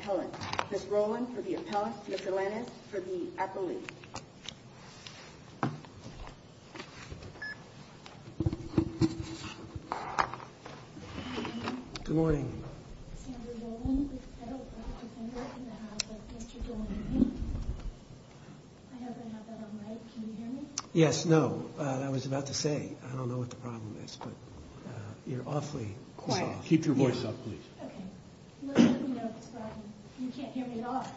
Appellant. Ms. Rowland for the Appellant. Ms. Alanis for the Appellant. Good morning. Yes, no, I was about to say, I don't know what the problem is, but you're awfully quiet. Keep your voice up, please.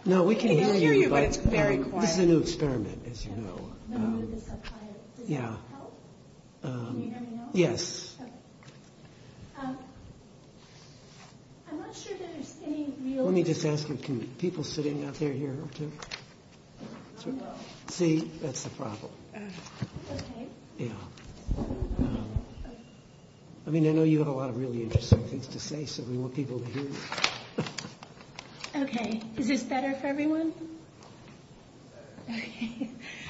No, we can hear you, but it's very quiet. This is a new experiment, as you know. Let me just ask you, can people sitting out there hear? See, that's the problem. I mean, I know you have a lot of really interesting things to say, so we want people to hear. Okay, is this better for everyone?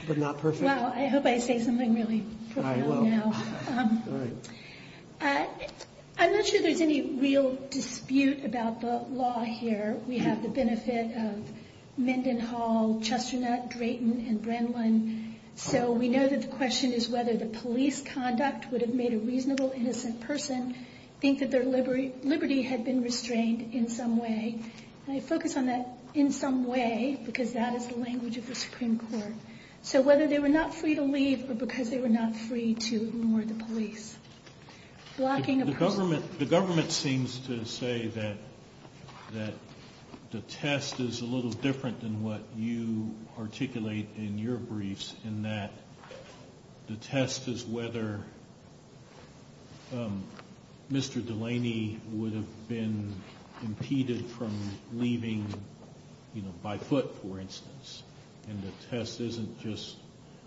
But not perfect? Well, I hope I say something really profound now. I'm not sure there's any real dispute about the law here. We have the benefit of Mendenhall, Chesternut, Drayton, and Brennan, so we know that the question is whether the police conduct would have made a reasonable, innocent person think that their liberty had been restrained in some way. And I focus on that in some way because that is the language of the Supreme Court. So whether they were not free to leave or because they were not free to ignore the police. The government seems to say that the test is a little different than what you articulate in your briefs in that the test is whether Mr. Delaney would have been impeded from leaving by foot, for instance. And the test isn't just,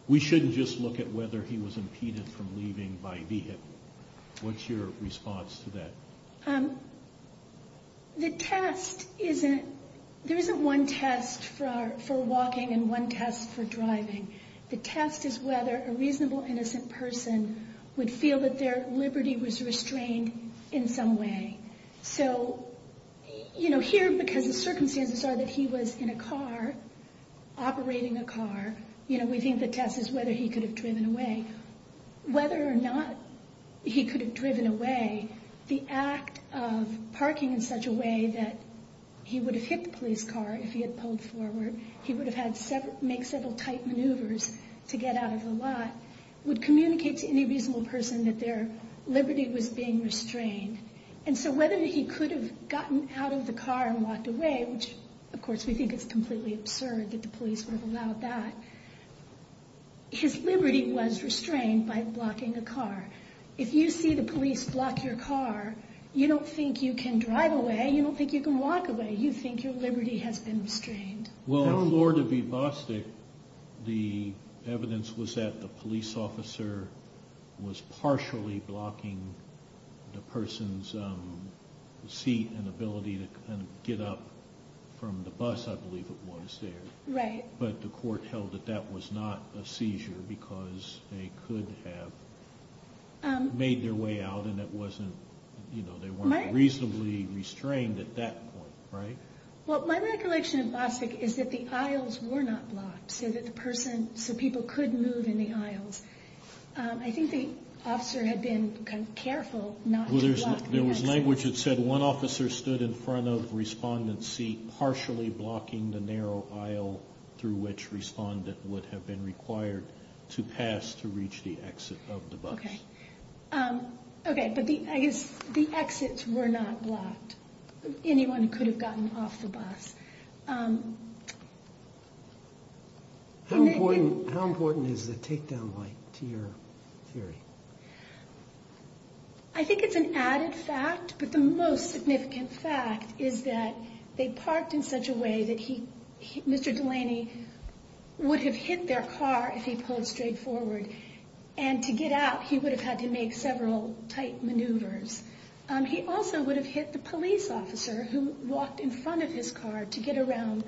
we shouldn't just look at whether he was impeded from leaving by vehicle. What's your response to that? The test isn't, there isn't one test for walking and one test for driving. The test is whether a reasonable, innocent person would feel that their liberty was restrained in some way. So, you know, here because the circumstances are that he was in a car, operating a car, you know, we think the test is whether he could have driven away. And whether or not he could have driven away, the act of parking in such a way that he would have hit the police car if he had pulled forward, he would have had several, make several tight maneuvers to get out of the lot, would communicate to any reasonable person that their liberty was being restrained. And so whether he could have gotten out of the car and walked away, which of course we think is completely absurd that the police would have allowed that, his liberty was restrained by blocking a car. If you see the police block your car, you don't think you can drive away, you don't think you can walk away, you think your liberty has been restrained. Well, in Florida v. Bostick, the evidence was that the police officer was partially blocking the person's seat and ability to get up from the bus, I believe it was there. Right. But the court held that that was not a seizure because they could have made their way out and it wasn't, you know, they weren't reasonably restrained at that point, right? Well, my recollection of Bostick is that the aisles were not blocked so that the person, so people could move in the aisles. I think the officer had been kind of careful not to block. Well, there was language that said one officer stood in front of the respondent's seat partially blocking the narrow aisle through which respondent would have been required to pass to reach the exit of the bus. Okay. Okay, but the exits were not blocked. Anyone could have gotten off the bus. How important is the takedown light to your theory? I think it's an added fact, but the most significant fact is that they parked in such a way that Mr. Delaney would have hit their car if he pulled straight forward. And to get out, he would have had to make several tight maneuvers. He also would have hit the police officer who walked in front of his car to get around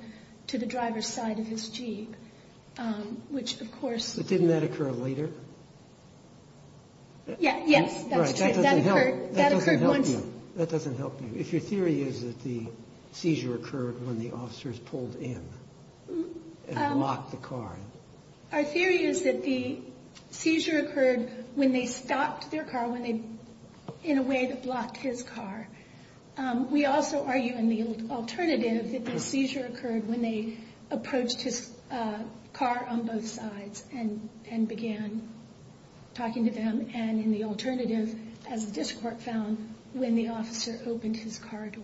to the driver's side of his Jeep, which, of course... Yes, that's true. That occurred once. That doesn't help you. If your theory is that the seizure occurred when the officers pulled in and blocked the car. Our theory is that the seizure occurred when they stopped their car in a way that blocked his car. We also argue in the alternative that the seizure occurred when they approached his car on both sides and began talking to them, and in the alternative, as the district court found, when the officer opened his car door.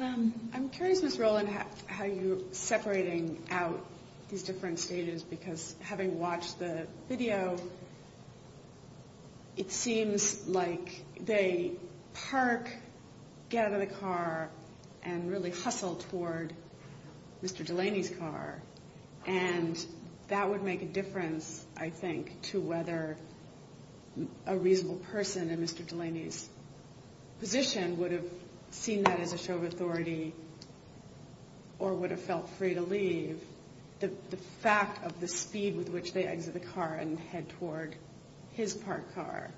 I'm curious, Ms. Rowland, how you're separating out these different states, because having watched the video, it seems like they park, get out of the car, and really hustle toward Mr. Delaney's car. And that would make a difference, I think, to whether a reasonable person in Mr. Delaney's position would have seen that as a show of authority or would have felt free to leave. The fact of the speed with which they exit the car and head toward his parked car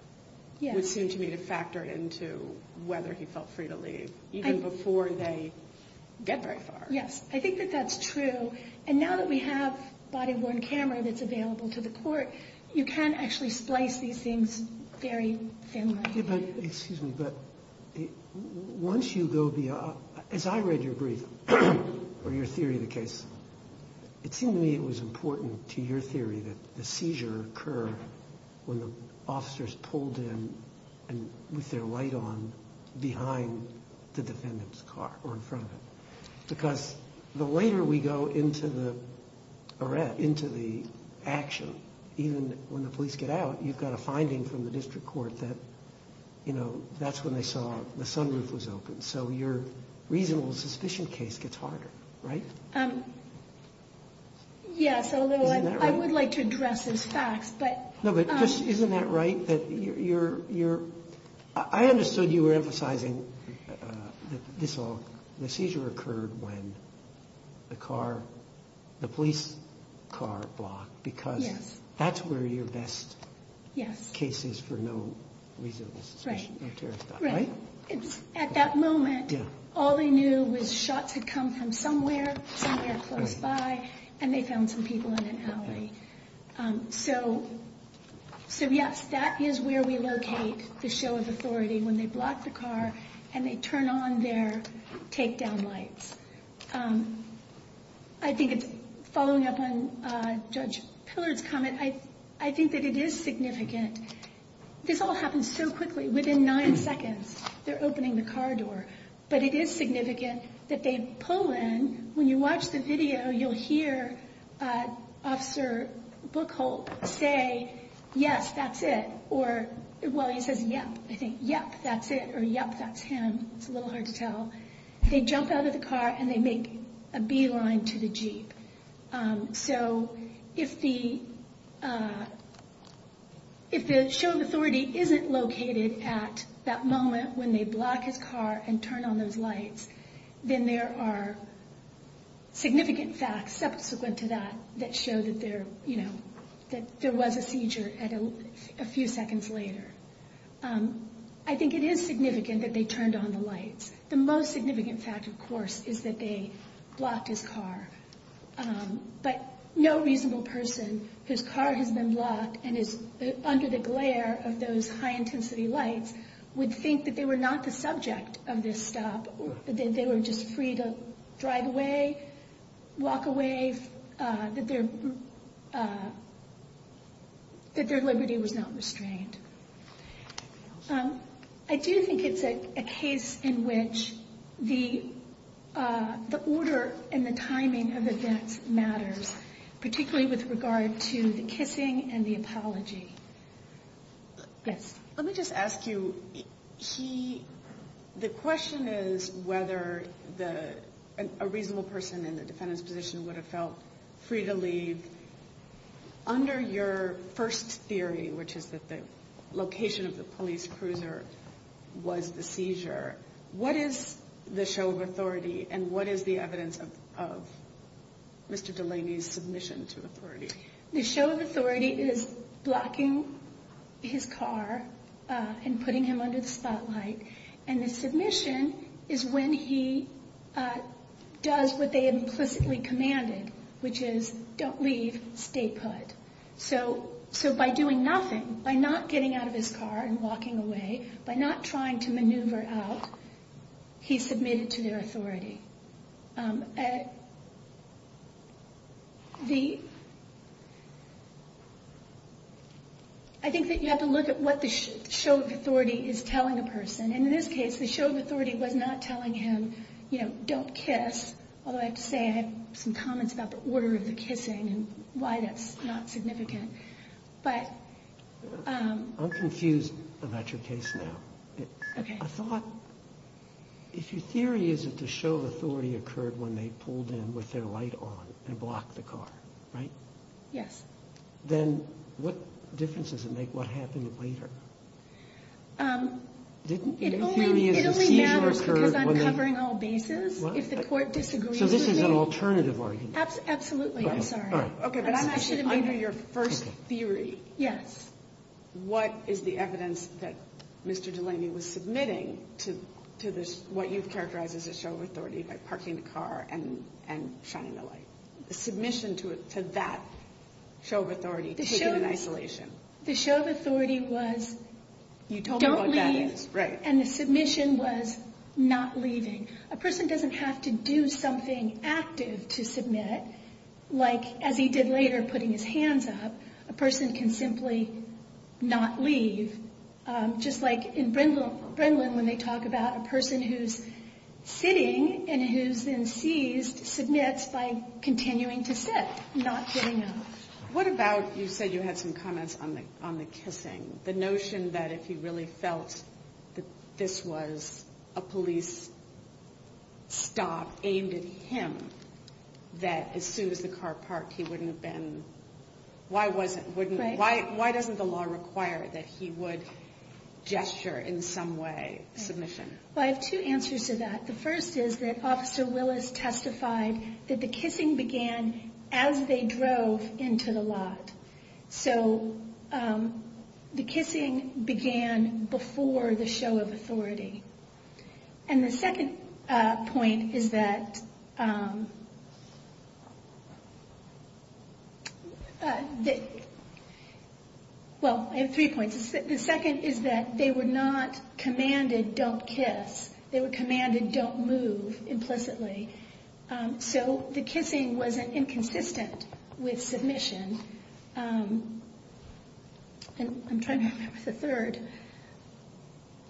would seem to me to factor into whether he felt free to leave, even before they get very far. Yes, I think that that's true. And now that we have a body-worn camera that's available to the court, you can actually splice these things very thinly. Excuse me, but once you go beyond, as I read your brief or your theory of the case, it seemed to me it was important to your theory that the seizure occurred when the officers pulled in with their light on behind the defendant's car or in front of it. Because the later we go into the action, even when the police get out, you've got a finding from the district court that that's when they saw the sunroof was open. So your reasonable suspicion case gets harder, right? Yes, although I would like to address those facts. No, but isn't that right? I understood you were emphasizing that the seizure occurred when the police car blocked, because that's where your best case is for no reasonable suspicion. At that moment, all they knew was shots had come from somewhere, somewhere close by, and they found some people in an alley. So yes, that is where we locate the show of authority, when they block the car and they turn on their takedown lights. I think following up on Judge Pillard's comment, I think that it is significant. This all happens so quickly. Within nine seconds, they're opening the car door. But it is significant that they pull in. When you watch the video, you'll hear Officer Buchholz say, yes, that's it. Or, well, he says, yep, I think. Yep, that's it, or yep, that's him. It's a little hard to tell. They jump out of the car, and they make a beeline to the Jeep. So if the show of authority isn't located at that moment when they block his car and turn on those lights, then there are significant facts subsequent to that that show that there was a seizure a few seconds later. I think it is significant that they turned on the lights. The most significant fact, of course, is that they blocked his car. But no reasonable person whose car has been blocked and is under the glare of those high-intensity lights would think that they were not the subject of this stop, that they were just free to drive away, walk away, that their liberty was not restrained. I do think it's a case in which the order and the timing of events matters, particularly with regard to the kissing and the apology. Yes? Let me just ask you, the question is whether a reasonable person in the defendant's position would have felt free to leave. Under your first theory, which is that the location of the police cruiser was the seizure, what is the show of authority, and what is the evidence of Mr. Delaney's submission to authority? The show of authority is blocking his car and putting him under the spotlight, and the submission is when he does what they implicitly commanded, which is, don't leave, stay put. So by doing nothing, by not getting out of his car and walking away, by not trying to maneuver out, he's submitted to their authority. I think that you have to look at what the show of authority is telling a person. And in this case, the show of authority was not telling him, you know, don't kiss, although I have to say I have some comments about the order of the kissing and why that's not significant. I'm confused about your case now. Okay. I thought, if your theory is that the show of authority occurred when they pulled in with their light on and blocked the car, right? Yes. Then what difference does it make what happened later? It only matters because I'm covering all bases. If the court disagrees with me. So this is an alternative argument. Absolutely. I'm sorry. Okay. But I'm actually under your first theory. Yes. What is the evidence that Mr. Delaney was submitting to this, what you've characterized as a show of authority, by parking the car and shining the light? The submission to that show of authority, taken in isolation. The show of authority was, don't leave, and the submission was not leaving. A person doesn't have to do something active to submit, like as he did later putting his hands up. A person can simply not leave. Just like in Brindlin when they talk about a person who's sitting and who's then seized submits by continuing to sit, not getting up. What about, you said you had some comments on the kissing, the notion that if he really felt that this was a police stop aimed at him, that as soon as the car parked he wouldn't have been, why wasn't, why doesn't the law require that he would gesture in some way, submission? Well, I have two answers to that. The first is that Officer Willis testified that the kissing began as they drove into the lot. So the kissing began before the show of authority. And the second point is that, well, I have three points. The second is that they were not commanded, don't kiss. They were commanded, don't move, implicitly. So the kissing was inconsistent with submission. And I'm trying to remember the third.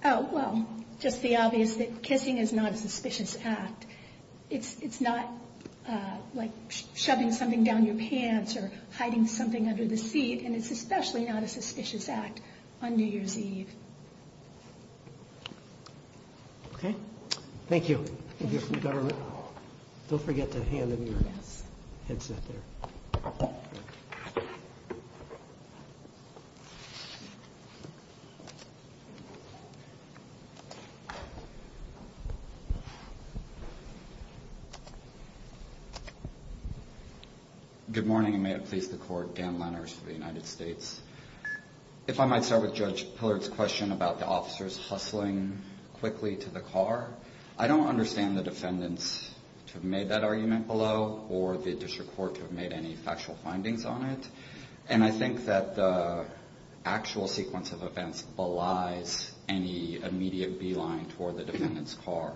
Oh, well, just the obvious that kissing is not a suspicious act. It's not like shoving something down your pants or hiding something under the seat, and it's especially not a suspicious act on New Year's Eve. Okay. Thank you. Thank you for your government. Don't forget to hand in your headset there. Good morning, and may it please the Court. Dan Lenners for the United States. If I might start with Judge Pillard's question about the officers hustling quickly to the car, I don't understand the defendants to have made that argument below or the district court to have made any factual findings on it. And I think that the actual sequence of events belies any immediate beeline toward the defendant's car.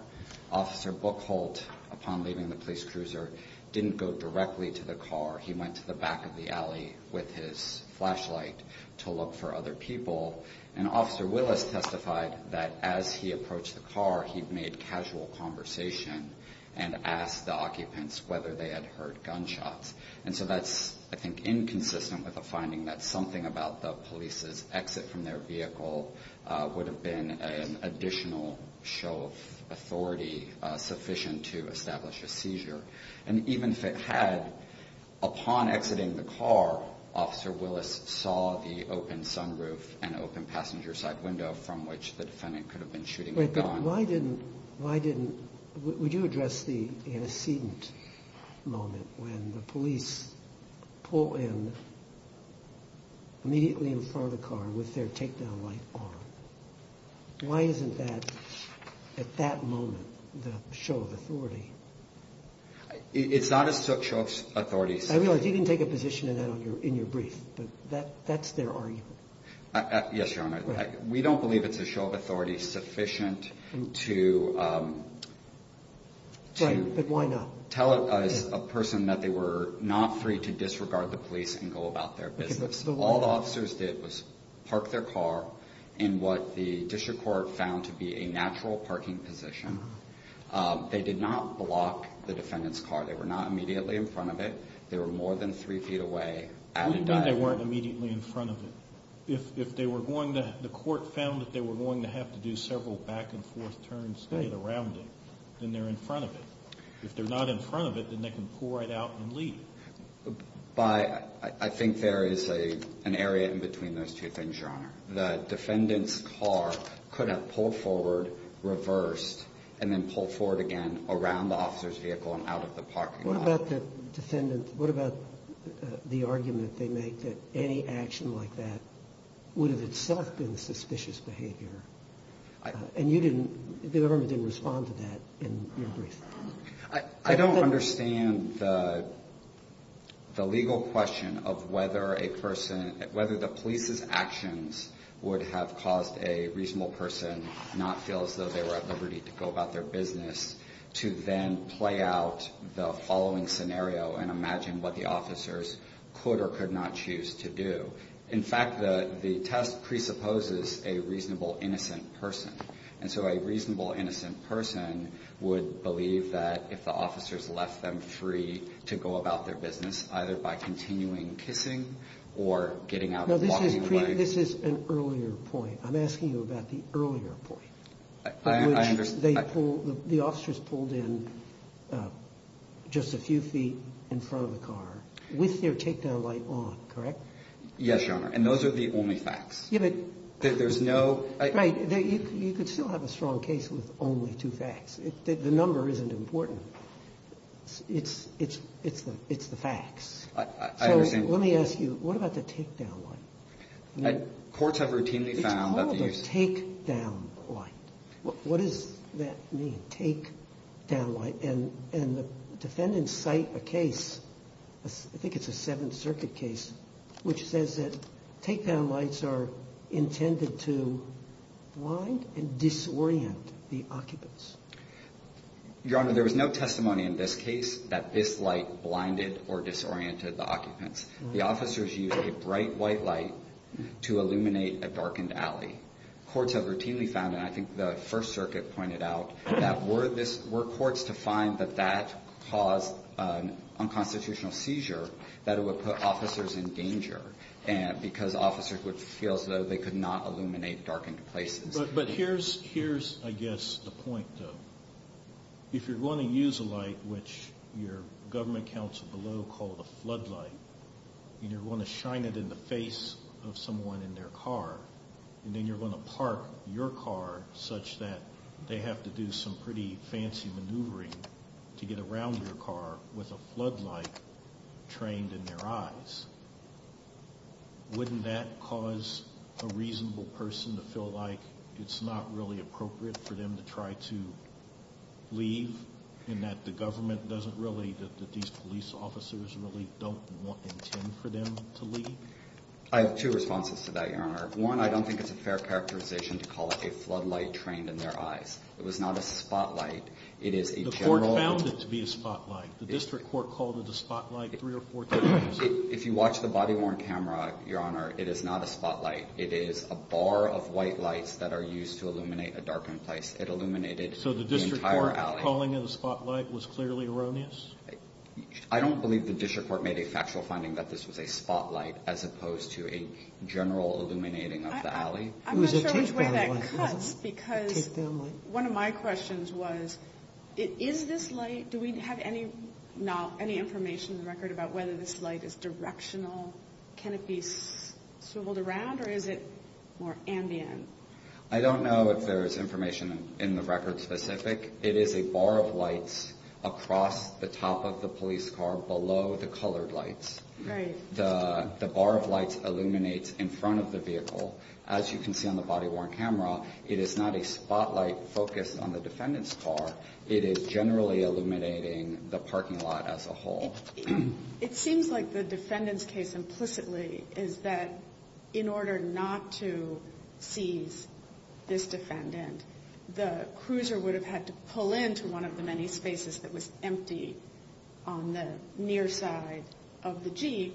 Officer Bookholt, upon leaving the police cruiser, didn't go directly to the car. He went to the back of the alley with his flashlight to look for other people. And Officer Willis testified that as he approached the car, he made casual conversation and asked the occupants whether they had heard gunshots. And so that's, I think, inconsistent with the finding that something about the police's exit from their vehicle would have been an additional show of authority sufficient to establish a seizure. And even if it had, upon exiting the car, Officer Willis saw the open sunroof and open passenger side window from which the defendant could have been shooting a gun. But why didn't, why didn't, would you address the antecedent moment when the police pull in immediately in front of the car with their takedown light on? Why isn't that, at that moment, the show of authority? It's not a show of authority. I realize you didn't take a position in that in your brief, but that's their argument. Yes, Your Honor. We don't believe it's a show of authority sufficient to tell a person that they were not free to disregard the police and go about their business. All the officers did was park their car in what the district court found to be a natural parking position. They did not block the defendant's car. They were not immediately in front of it. They were more than three feet away. What do you mean they weren't immediately in front of it? If they were going to, the court found that they were going to have to do several back and forth turns around it, then they're in front of it. If they're not in front of it, then they can pull right out and leave. But I think there is an area in between those two things, Your Honor. The defendant's car could have pulled forward, reversed, and then pulled forward again around the officer's vehicle and out of the parking lot. What about the argument they make that any action like that would have itself been suspicious behavior? And you didn't – the government didn't respond to that in your brief. I don't understand the legal question of whether a person – whether the police's actions would have caused a reasonable person not to feel as though they were at liberty to go about their business to then play out the following scenario and imagine what the officers could or could not choose to do. In fact, the test presupposes a reasonable, innocent person. And so a reasonable, innocent person would believe that if the officers left them free to go about their business, either by continuing kissing or getting out and walking away. This is an earlier point. I'm asking you about the earlier point. I understand. The officers pulled in just a few feet in front of the car with their takedown light on, correct? Yes, Your Honor. And those are the only facts. There's no – Right. You could still have a strong case with only two facts. The number isn't important. It's the facts. I understand. So let me ask you, what about the takedown light? Courts have routinely found that the – It's called a takedown light. What does that mean, takedown light? And the defendants cite a case, I think it's a Seventh Circuit case, which says that takedown lights are intended to blind and disorient the occupants. Your Honor, there was no testimony in this case that this light blinded or disoriented the occupants. The officers used a bright white light to illuminate a darkened alley. I think courts have routinely found, and I think the First Circuit pointed out, that were courts to find that that caused an unconstitutional seizure, that it would put officers in danger because officers would feel as though they could not illuminate darkened places. But here's, I guess, the point, though. If you're going to use a light, which your government counsel below called a floodlight, and you're going to shine it in the face of someone in their car, and then you're going to park your car such that they have to do some pretty fancy maneuvering to get around your car with a floodlight trained in their eyes, wouldn't that cause a reasonable person to feel like it's not really appropriate for them to try to leave and that the government doesn't really, that these police officers really don't intend for them to leave? I have two responses to that, Your Honor. One, I don't think it's a fair characterization to call it a floodlight trained in their eyes. It was not a spotlight. The court found it to be a spotlight. The district court called it a spotlight three or four times. If you watch the body-worn camera, Your Honor, it is not a spotlight. It is a bar of white lights that are used to illuminate a darkened place. It illuminated the entire alley. So the district court calling it a spotlight was clearly erroneous? I don't believe the district court made a factual finding that this was a spotlight as opposed to a general illuminating of the alley. I'm not sure which way that cuts because one of my questions was, is this light, do we have any information in the record about whether this light is directional? Can it be swiveled around, or is it more ambient? I don't know if there is information in the record specific. It is a bar of lights across the top of the police car below the colored lights. Right. The bar of lights illuminates in front of the vehicle. As you can see on the body-worn camera, it is not a spotlight focused on the defendant's car. It is generally illuminating the parking lot as a whole. It seems like the defendant's case implicitly is that in order not to seize this defendant, the cruiser would have had to pull into one of the many spaces that was empty on the near side of the Jeep.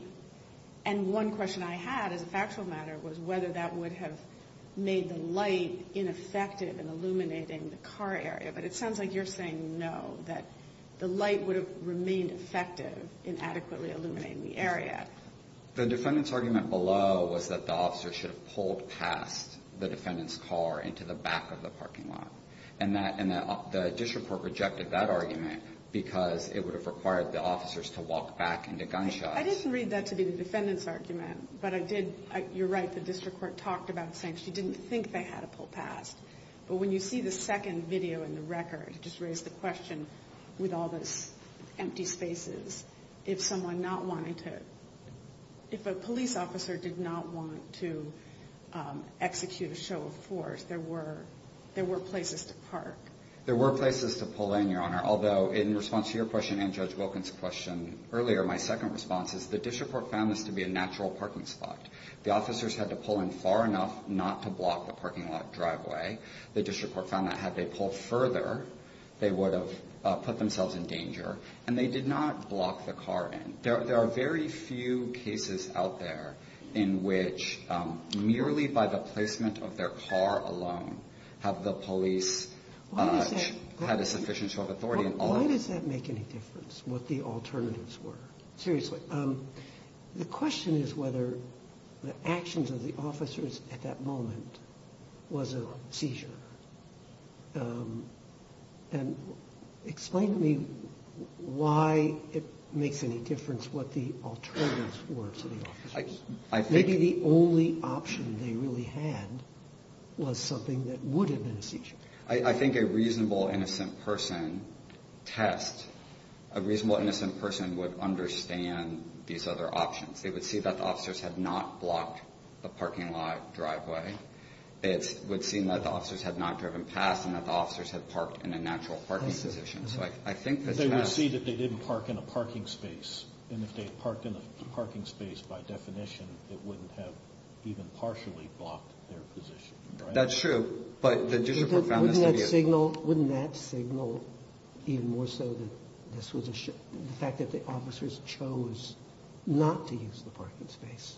And one question I had as a factual matter was whether that would have made the light ineffective in illuminating the car area. But it sounds like you're saying no, that the light would have remained effective in adequately illuminating the area. The defendant's argument below was that the officer should have pulled past the defendant's car into the back of the parking lot. And the district court rejected that argument because it would have required the officers to walk back into gunshots. I didn't read that to be the defendant's argument, but I did. You're right, the district court talked about saying she didn't think they had to pull past. But when you see the second video in the record, it just raised the question with all those empty spaces, if someone not wanting to, if a police officer did not want to execute a show of force, there were places to park. There were places to pull in, Your Honor, although in response to your question and Judge Wilkins' question earlier, my second response is the district court found this to be a natural parking spot. The officers had to pull in far enough not to block the parking lot driveway. The district court found that had they pulled further, they would have put themselves in danger. And they did not block the car in. There are very few cases out there in which merely by the placement of their car alone have the police had a sufficient show of authority. Why does that make any difference, what the alternatives were? Seriously. The question is whether the actions of the officers at that moment was a seizure. And explain to me why it makes any difference what the alternatives were to the officers. Maybe the only option they really had was something that would have been a seizure. I think a reasonable innocent person test, a reasonable innocent person would understand these other options. They would see that the officers had not blocked the parking lot driveway. It would seem that the officers had not driven past and that the officers had parked in a natural parking position. They would see that they didn't park in a parking space. And if they parked in a parking space by definition, it wouldn't have even partially blocked their position. That's true. Wouldn't that signal even more so the fact that the officers chose not to use the parking space?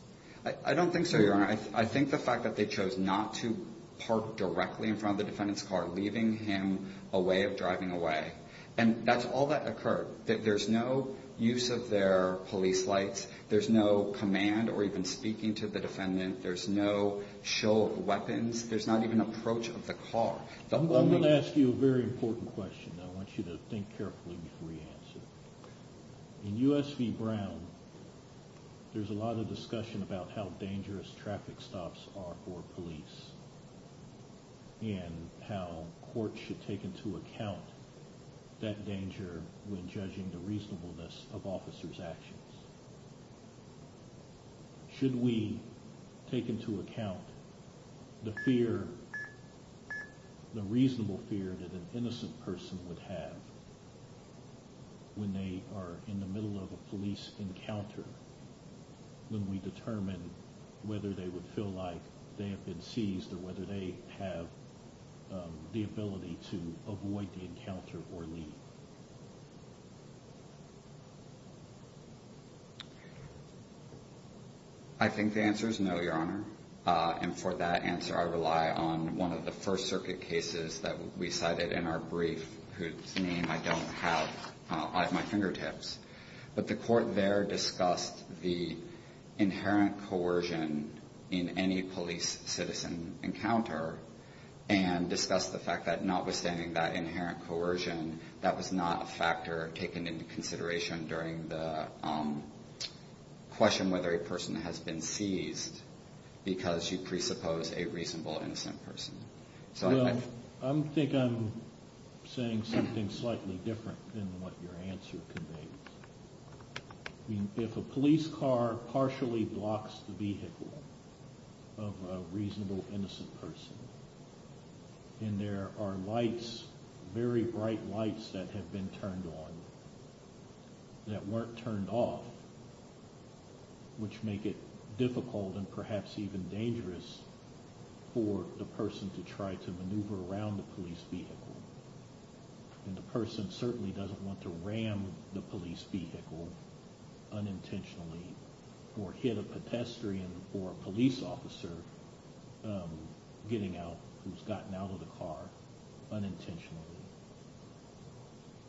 I don't think so, Your Honor. I think the fact that they chose not to park directly in front of the defendant's car, leaving him a way of driving away. And that's all that occurred. There's no use of their police lights. There's no command or even speaking to the defendant. There's no show of weapons. There's not even approach of the car. I'm going to ask you a very important question that I want you to think carefully before you answer. In U.S. v. Brown, there's a lot of discussion about how dangerous traffic stops are for police and how courts should take into account that danger when judging the reasonableness of officers' actions. Should we take into account the fear, the reasonable fear that an innocent person would have when they are in the middle of a police encounter, when we determine whether they would feel like they have been seized or whether they have the ability to avoid the encounter or leave? I think the answer is no, Your Honor. And for that answer, I rely on one of the First Circuit cases that we cited in our brief, whose name I don't have at my fingertips. But the court there discussed the inherent coercion in any police citizen encounter and discussed the fact that notwithstanding that inherent coercion, that was not a factor taken into consideration during the question whether a person has been seized because you presuppose a reasonable, innocent person. I think I'm saying something slightly different than what your answer conveys. If a police car partially blocks the vehicle of a reasonable, innocent person and there are lights, very bright lights that have been turned on that weren't turned off, which make it difficult and perhaps even dangerous for the person to try to maneuver around the police vehicle and the person certainly doesn't want to ram the police vehicle unintentionally or hit a pedestrian or a police officer getting out who's gotten out of the car unintentionally.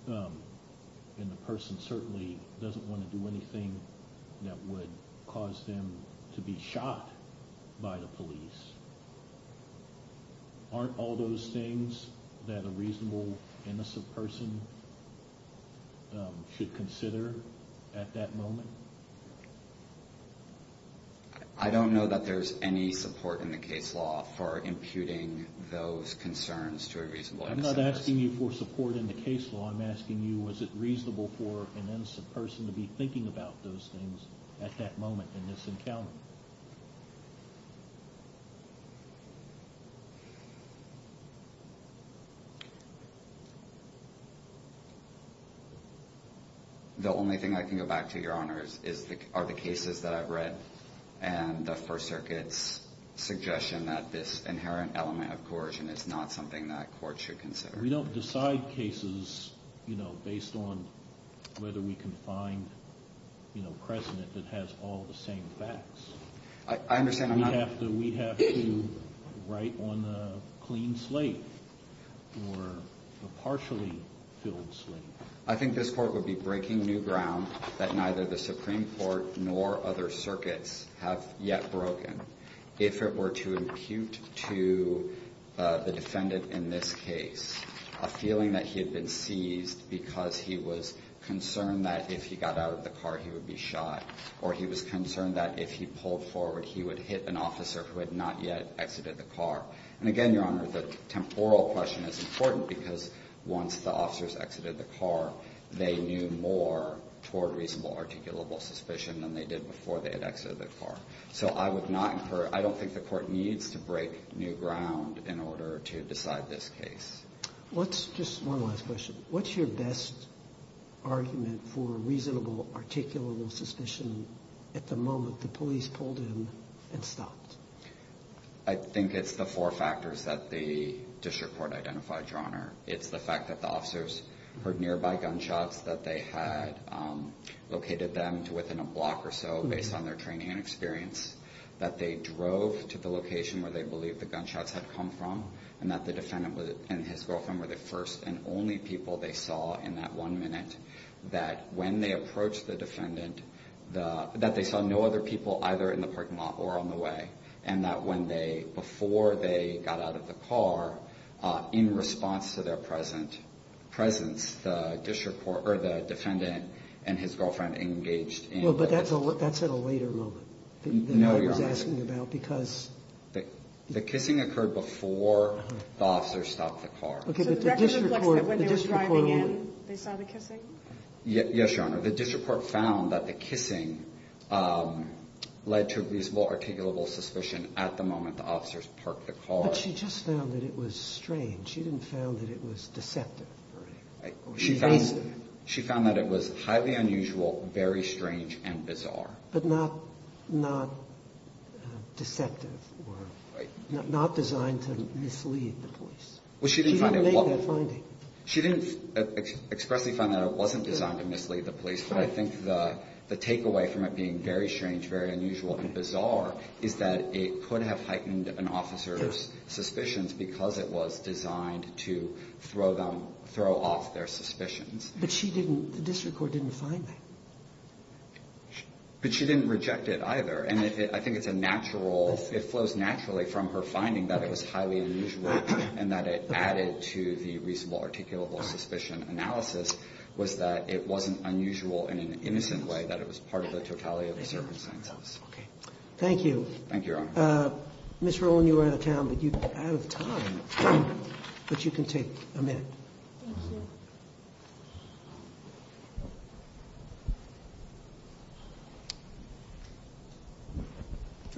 And the person certainly doesn't want to do anything that would cause them to be shot by the police. Aren't all those things that a reasonable, innocent person should consider at that moment? I don't know that there's any support in the case law for imputing those concerns to a reasonable, innocent person. I'm not asking you for support in the case law. I'm asking you, was it reasonable for an innocent person to be thinking about those things at that moment in this encounter? The only thing I can go back to, Your Honors, are the cases that I've read and the First Circuit's suggestion that this inherent element of coercion is not something that courts should consider. We don't decide cases, you know, based on whether we can find, you know, precedent that has all the same facts. I understand. We have to write on a clean slate or a partially filled slate. I think this Court would be breaking new ground that neither the Supreme Court nor other circuits have yet broken. If it were to impute to the defendant in this case a feeling that he had been seized because he was concerned that if he got out of the car, he would be shot, or he was concerned that if he pulled forward, he would hit an officer who had not yet exited the car. And again, Your Honor, the temporal question is important because once the officers exited the car, they knew more toward reasonable, articulable suspicion than they did before they had exited the car. So I don't think the Court needs to break new ground in order to decide this case. One last question. What's your best argument for reasonable, articulable suspicion at the moment the police pulled in and stopped? I think it's the four factors that the district court identified, Your Honor. It's the fact that the officers heard nearby gunshots, that they had located them within a block or so based on their training and experience, that they drove to the location where they believed the gunshots had come from, and that the defendant and his girlfriend were the first and only people they saw in that one minute, that when they approached the defendant, that they saw no other people either in the parking lot or on the way, and that before they got out of the car, in response to their presence, the district court or the defendant and his girlfriend engaged in a kiss. Well, but that's at a later moment than I was asking about because... The kissing occurred before the officers stopped the car. So the record reflects that when they were driving in, they saw the kissing? Yes, Your Honor. The district court found that the kissing led to reasonable, articulable suspicion at the moment the officers parked the car. But she just found that it was strange. She didn't find that it was deceptive. She found that it was highly unusual, very strange, and bizarre. But not deceptive or not designed to mislead the police. She didn't make that finding. She didn't expressly find that it wasn't designed to mislead the police, but I think the takeaway from it being very strange, very unusual, and bizarre is that it could have heightened an officer's suspicions because it was designed to throw them, throw off their suspicions. But she didn't, the district court didn't find that. But she didn't reject it either. And I think it's a natural, it flows naturally from her finding that it was highly unusual and that it added to the reasonable, articulable suspicion analysis was that it wasn't unusual in an innocent way that it was part of the totality of the circumstances. Okay. Thank you. Thank you, Your Honor. Ms. Rowland, you are out of time, but you can take a minute. Thank you.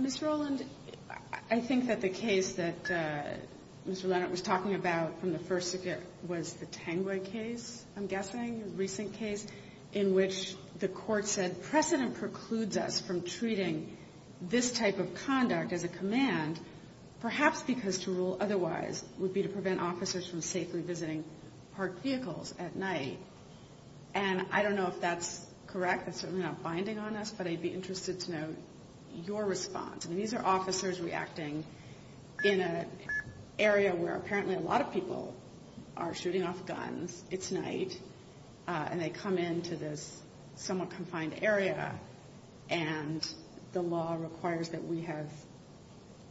Ms. Rowland, I think that the case that Mr. Leonard was talking about from the first circuit was the Tengway case, I'm guessing, a recent case, in which the Court said that if precedent precludes us from treating this type of conduct as a command, perhaps because to rule otherwise would be to prevent officers from safely visiting parked vehicles at night. And I don't know if that's correct. That's certainly not binding on us, but I'd be interested to know your response. I mean, these are officers reacting in an area where apparently a lot of people are shooting off guns. It's night, and they come into this somewhat confined area, and the law requires that we have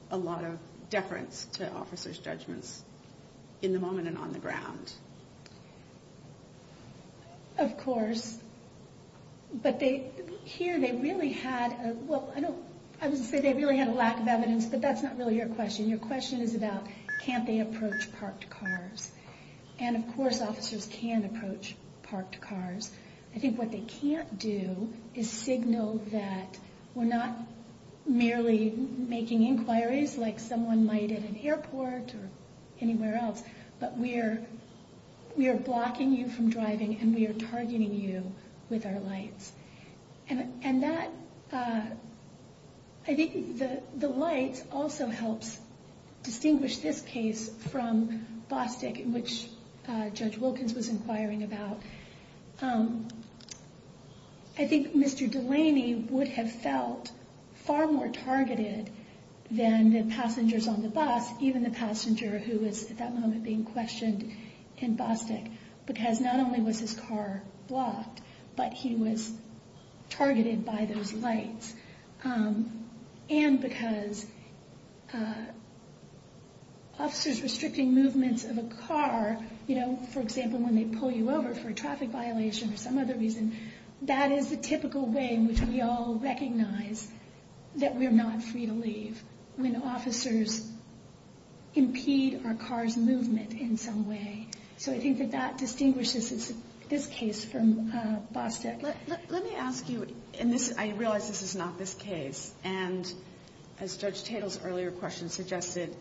a lot of deference to officers' judgments in the moment and on the ground. Of course. But here they really had a lack of evidence, but that's not really your question. Your question is about can't they approach parked cars. And, of course, officers can approach parked cars. I think what they can't do is signal that we're not merely making inquiries like someone might at an airport or anywhere else, but we are blocking you from driving and we are targeting you with our lights. And that, I think the lights also helps distinguish this case from Bostick, which Judge Wilkins was inquiring about. I think Mr. Delaney would have felt far more targeted than the passengers on the bus, even the passenger who was at that moment being questioned in Bostick, because not he was targeted by those lights and because officers restricting movements of a car, for example, when they pull you over for a traffic violation or some other reason, that is the typical way in which we all recognize that we are not free to leave when officers impede our car's movement in some way. So I think that that distinguishes this case from Bostick. Let me ask you, and I realize this is not this case, and as Judge Tatel's earlier question suggested,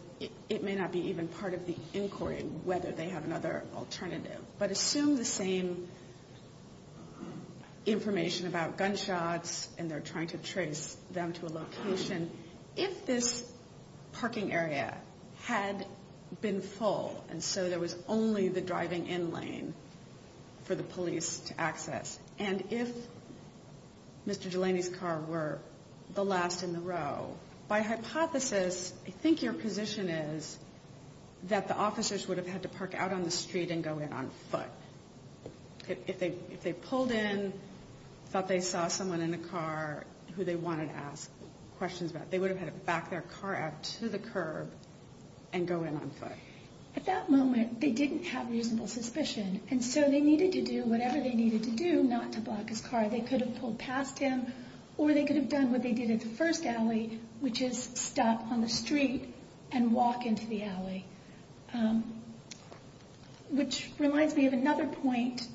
it may not be even part of the inquiry whether they have another alternative, but assume the same information about gunshots and they're trying to trace them to a location. If this parking area had been full and so there was only the driving in lane for the police to access, and if Mr. Delaney's car were the last in the row, by hypothesis I think your position is that the officers would have had to park out on the street and go in on foot. If they pulled in, thought they saw someone in the car who they wanted to ask questions about, they would have had to back their car out to the curb and go in on foot. At that moment, they didn't have reasonable suspicion, and so they needed to do whatever they needed to do not to block his car. They could have pulled past him, or they could have done what they did at the first alley, which is stop on the street and walk into the alley, which reminds me of another point.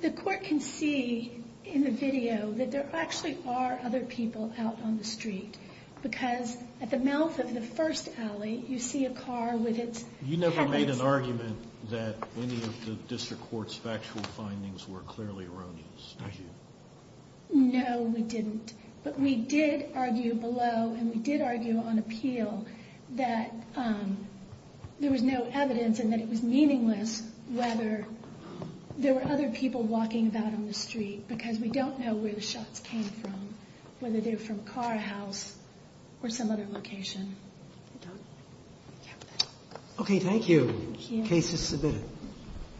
The court can see in the video that there actually are other people out on the street because at the mouth of the first alley, you see a car with its headlights on. You never made an argument that any of the district court's factual findings were clearly erroneous, did you? No, we didn't, but we did argue below and we did argue on appeal that there was no evidence and that it was meaningless whether there were other people walking about on the street because we don't know where the shots came from, whether they were from a car, a house, or some other location. Okay, thank you. Case is submitted.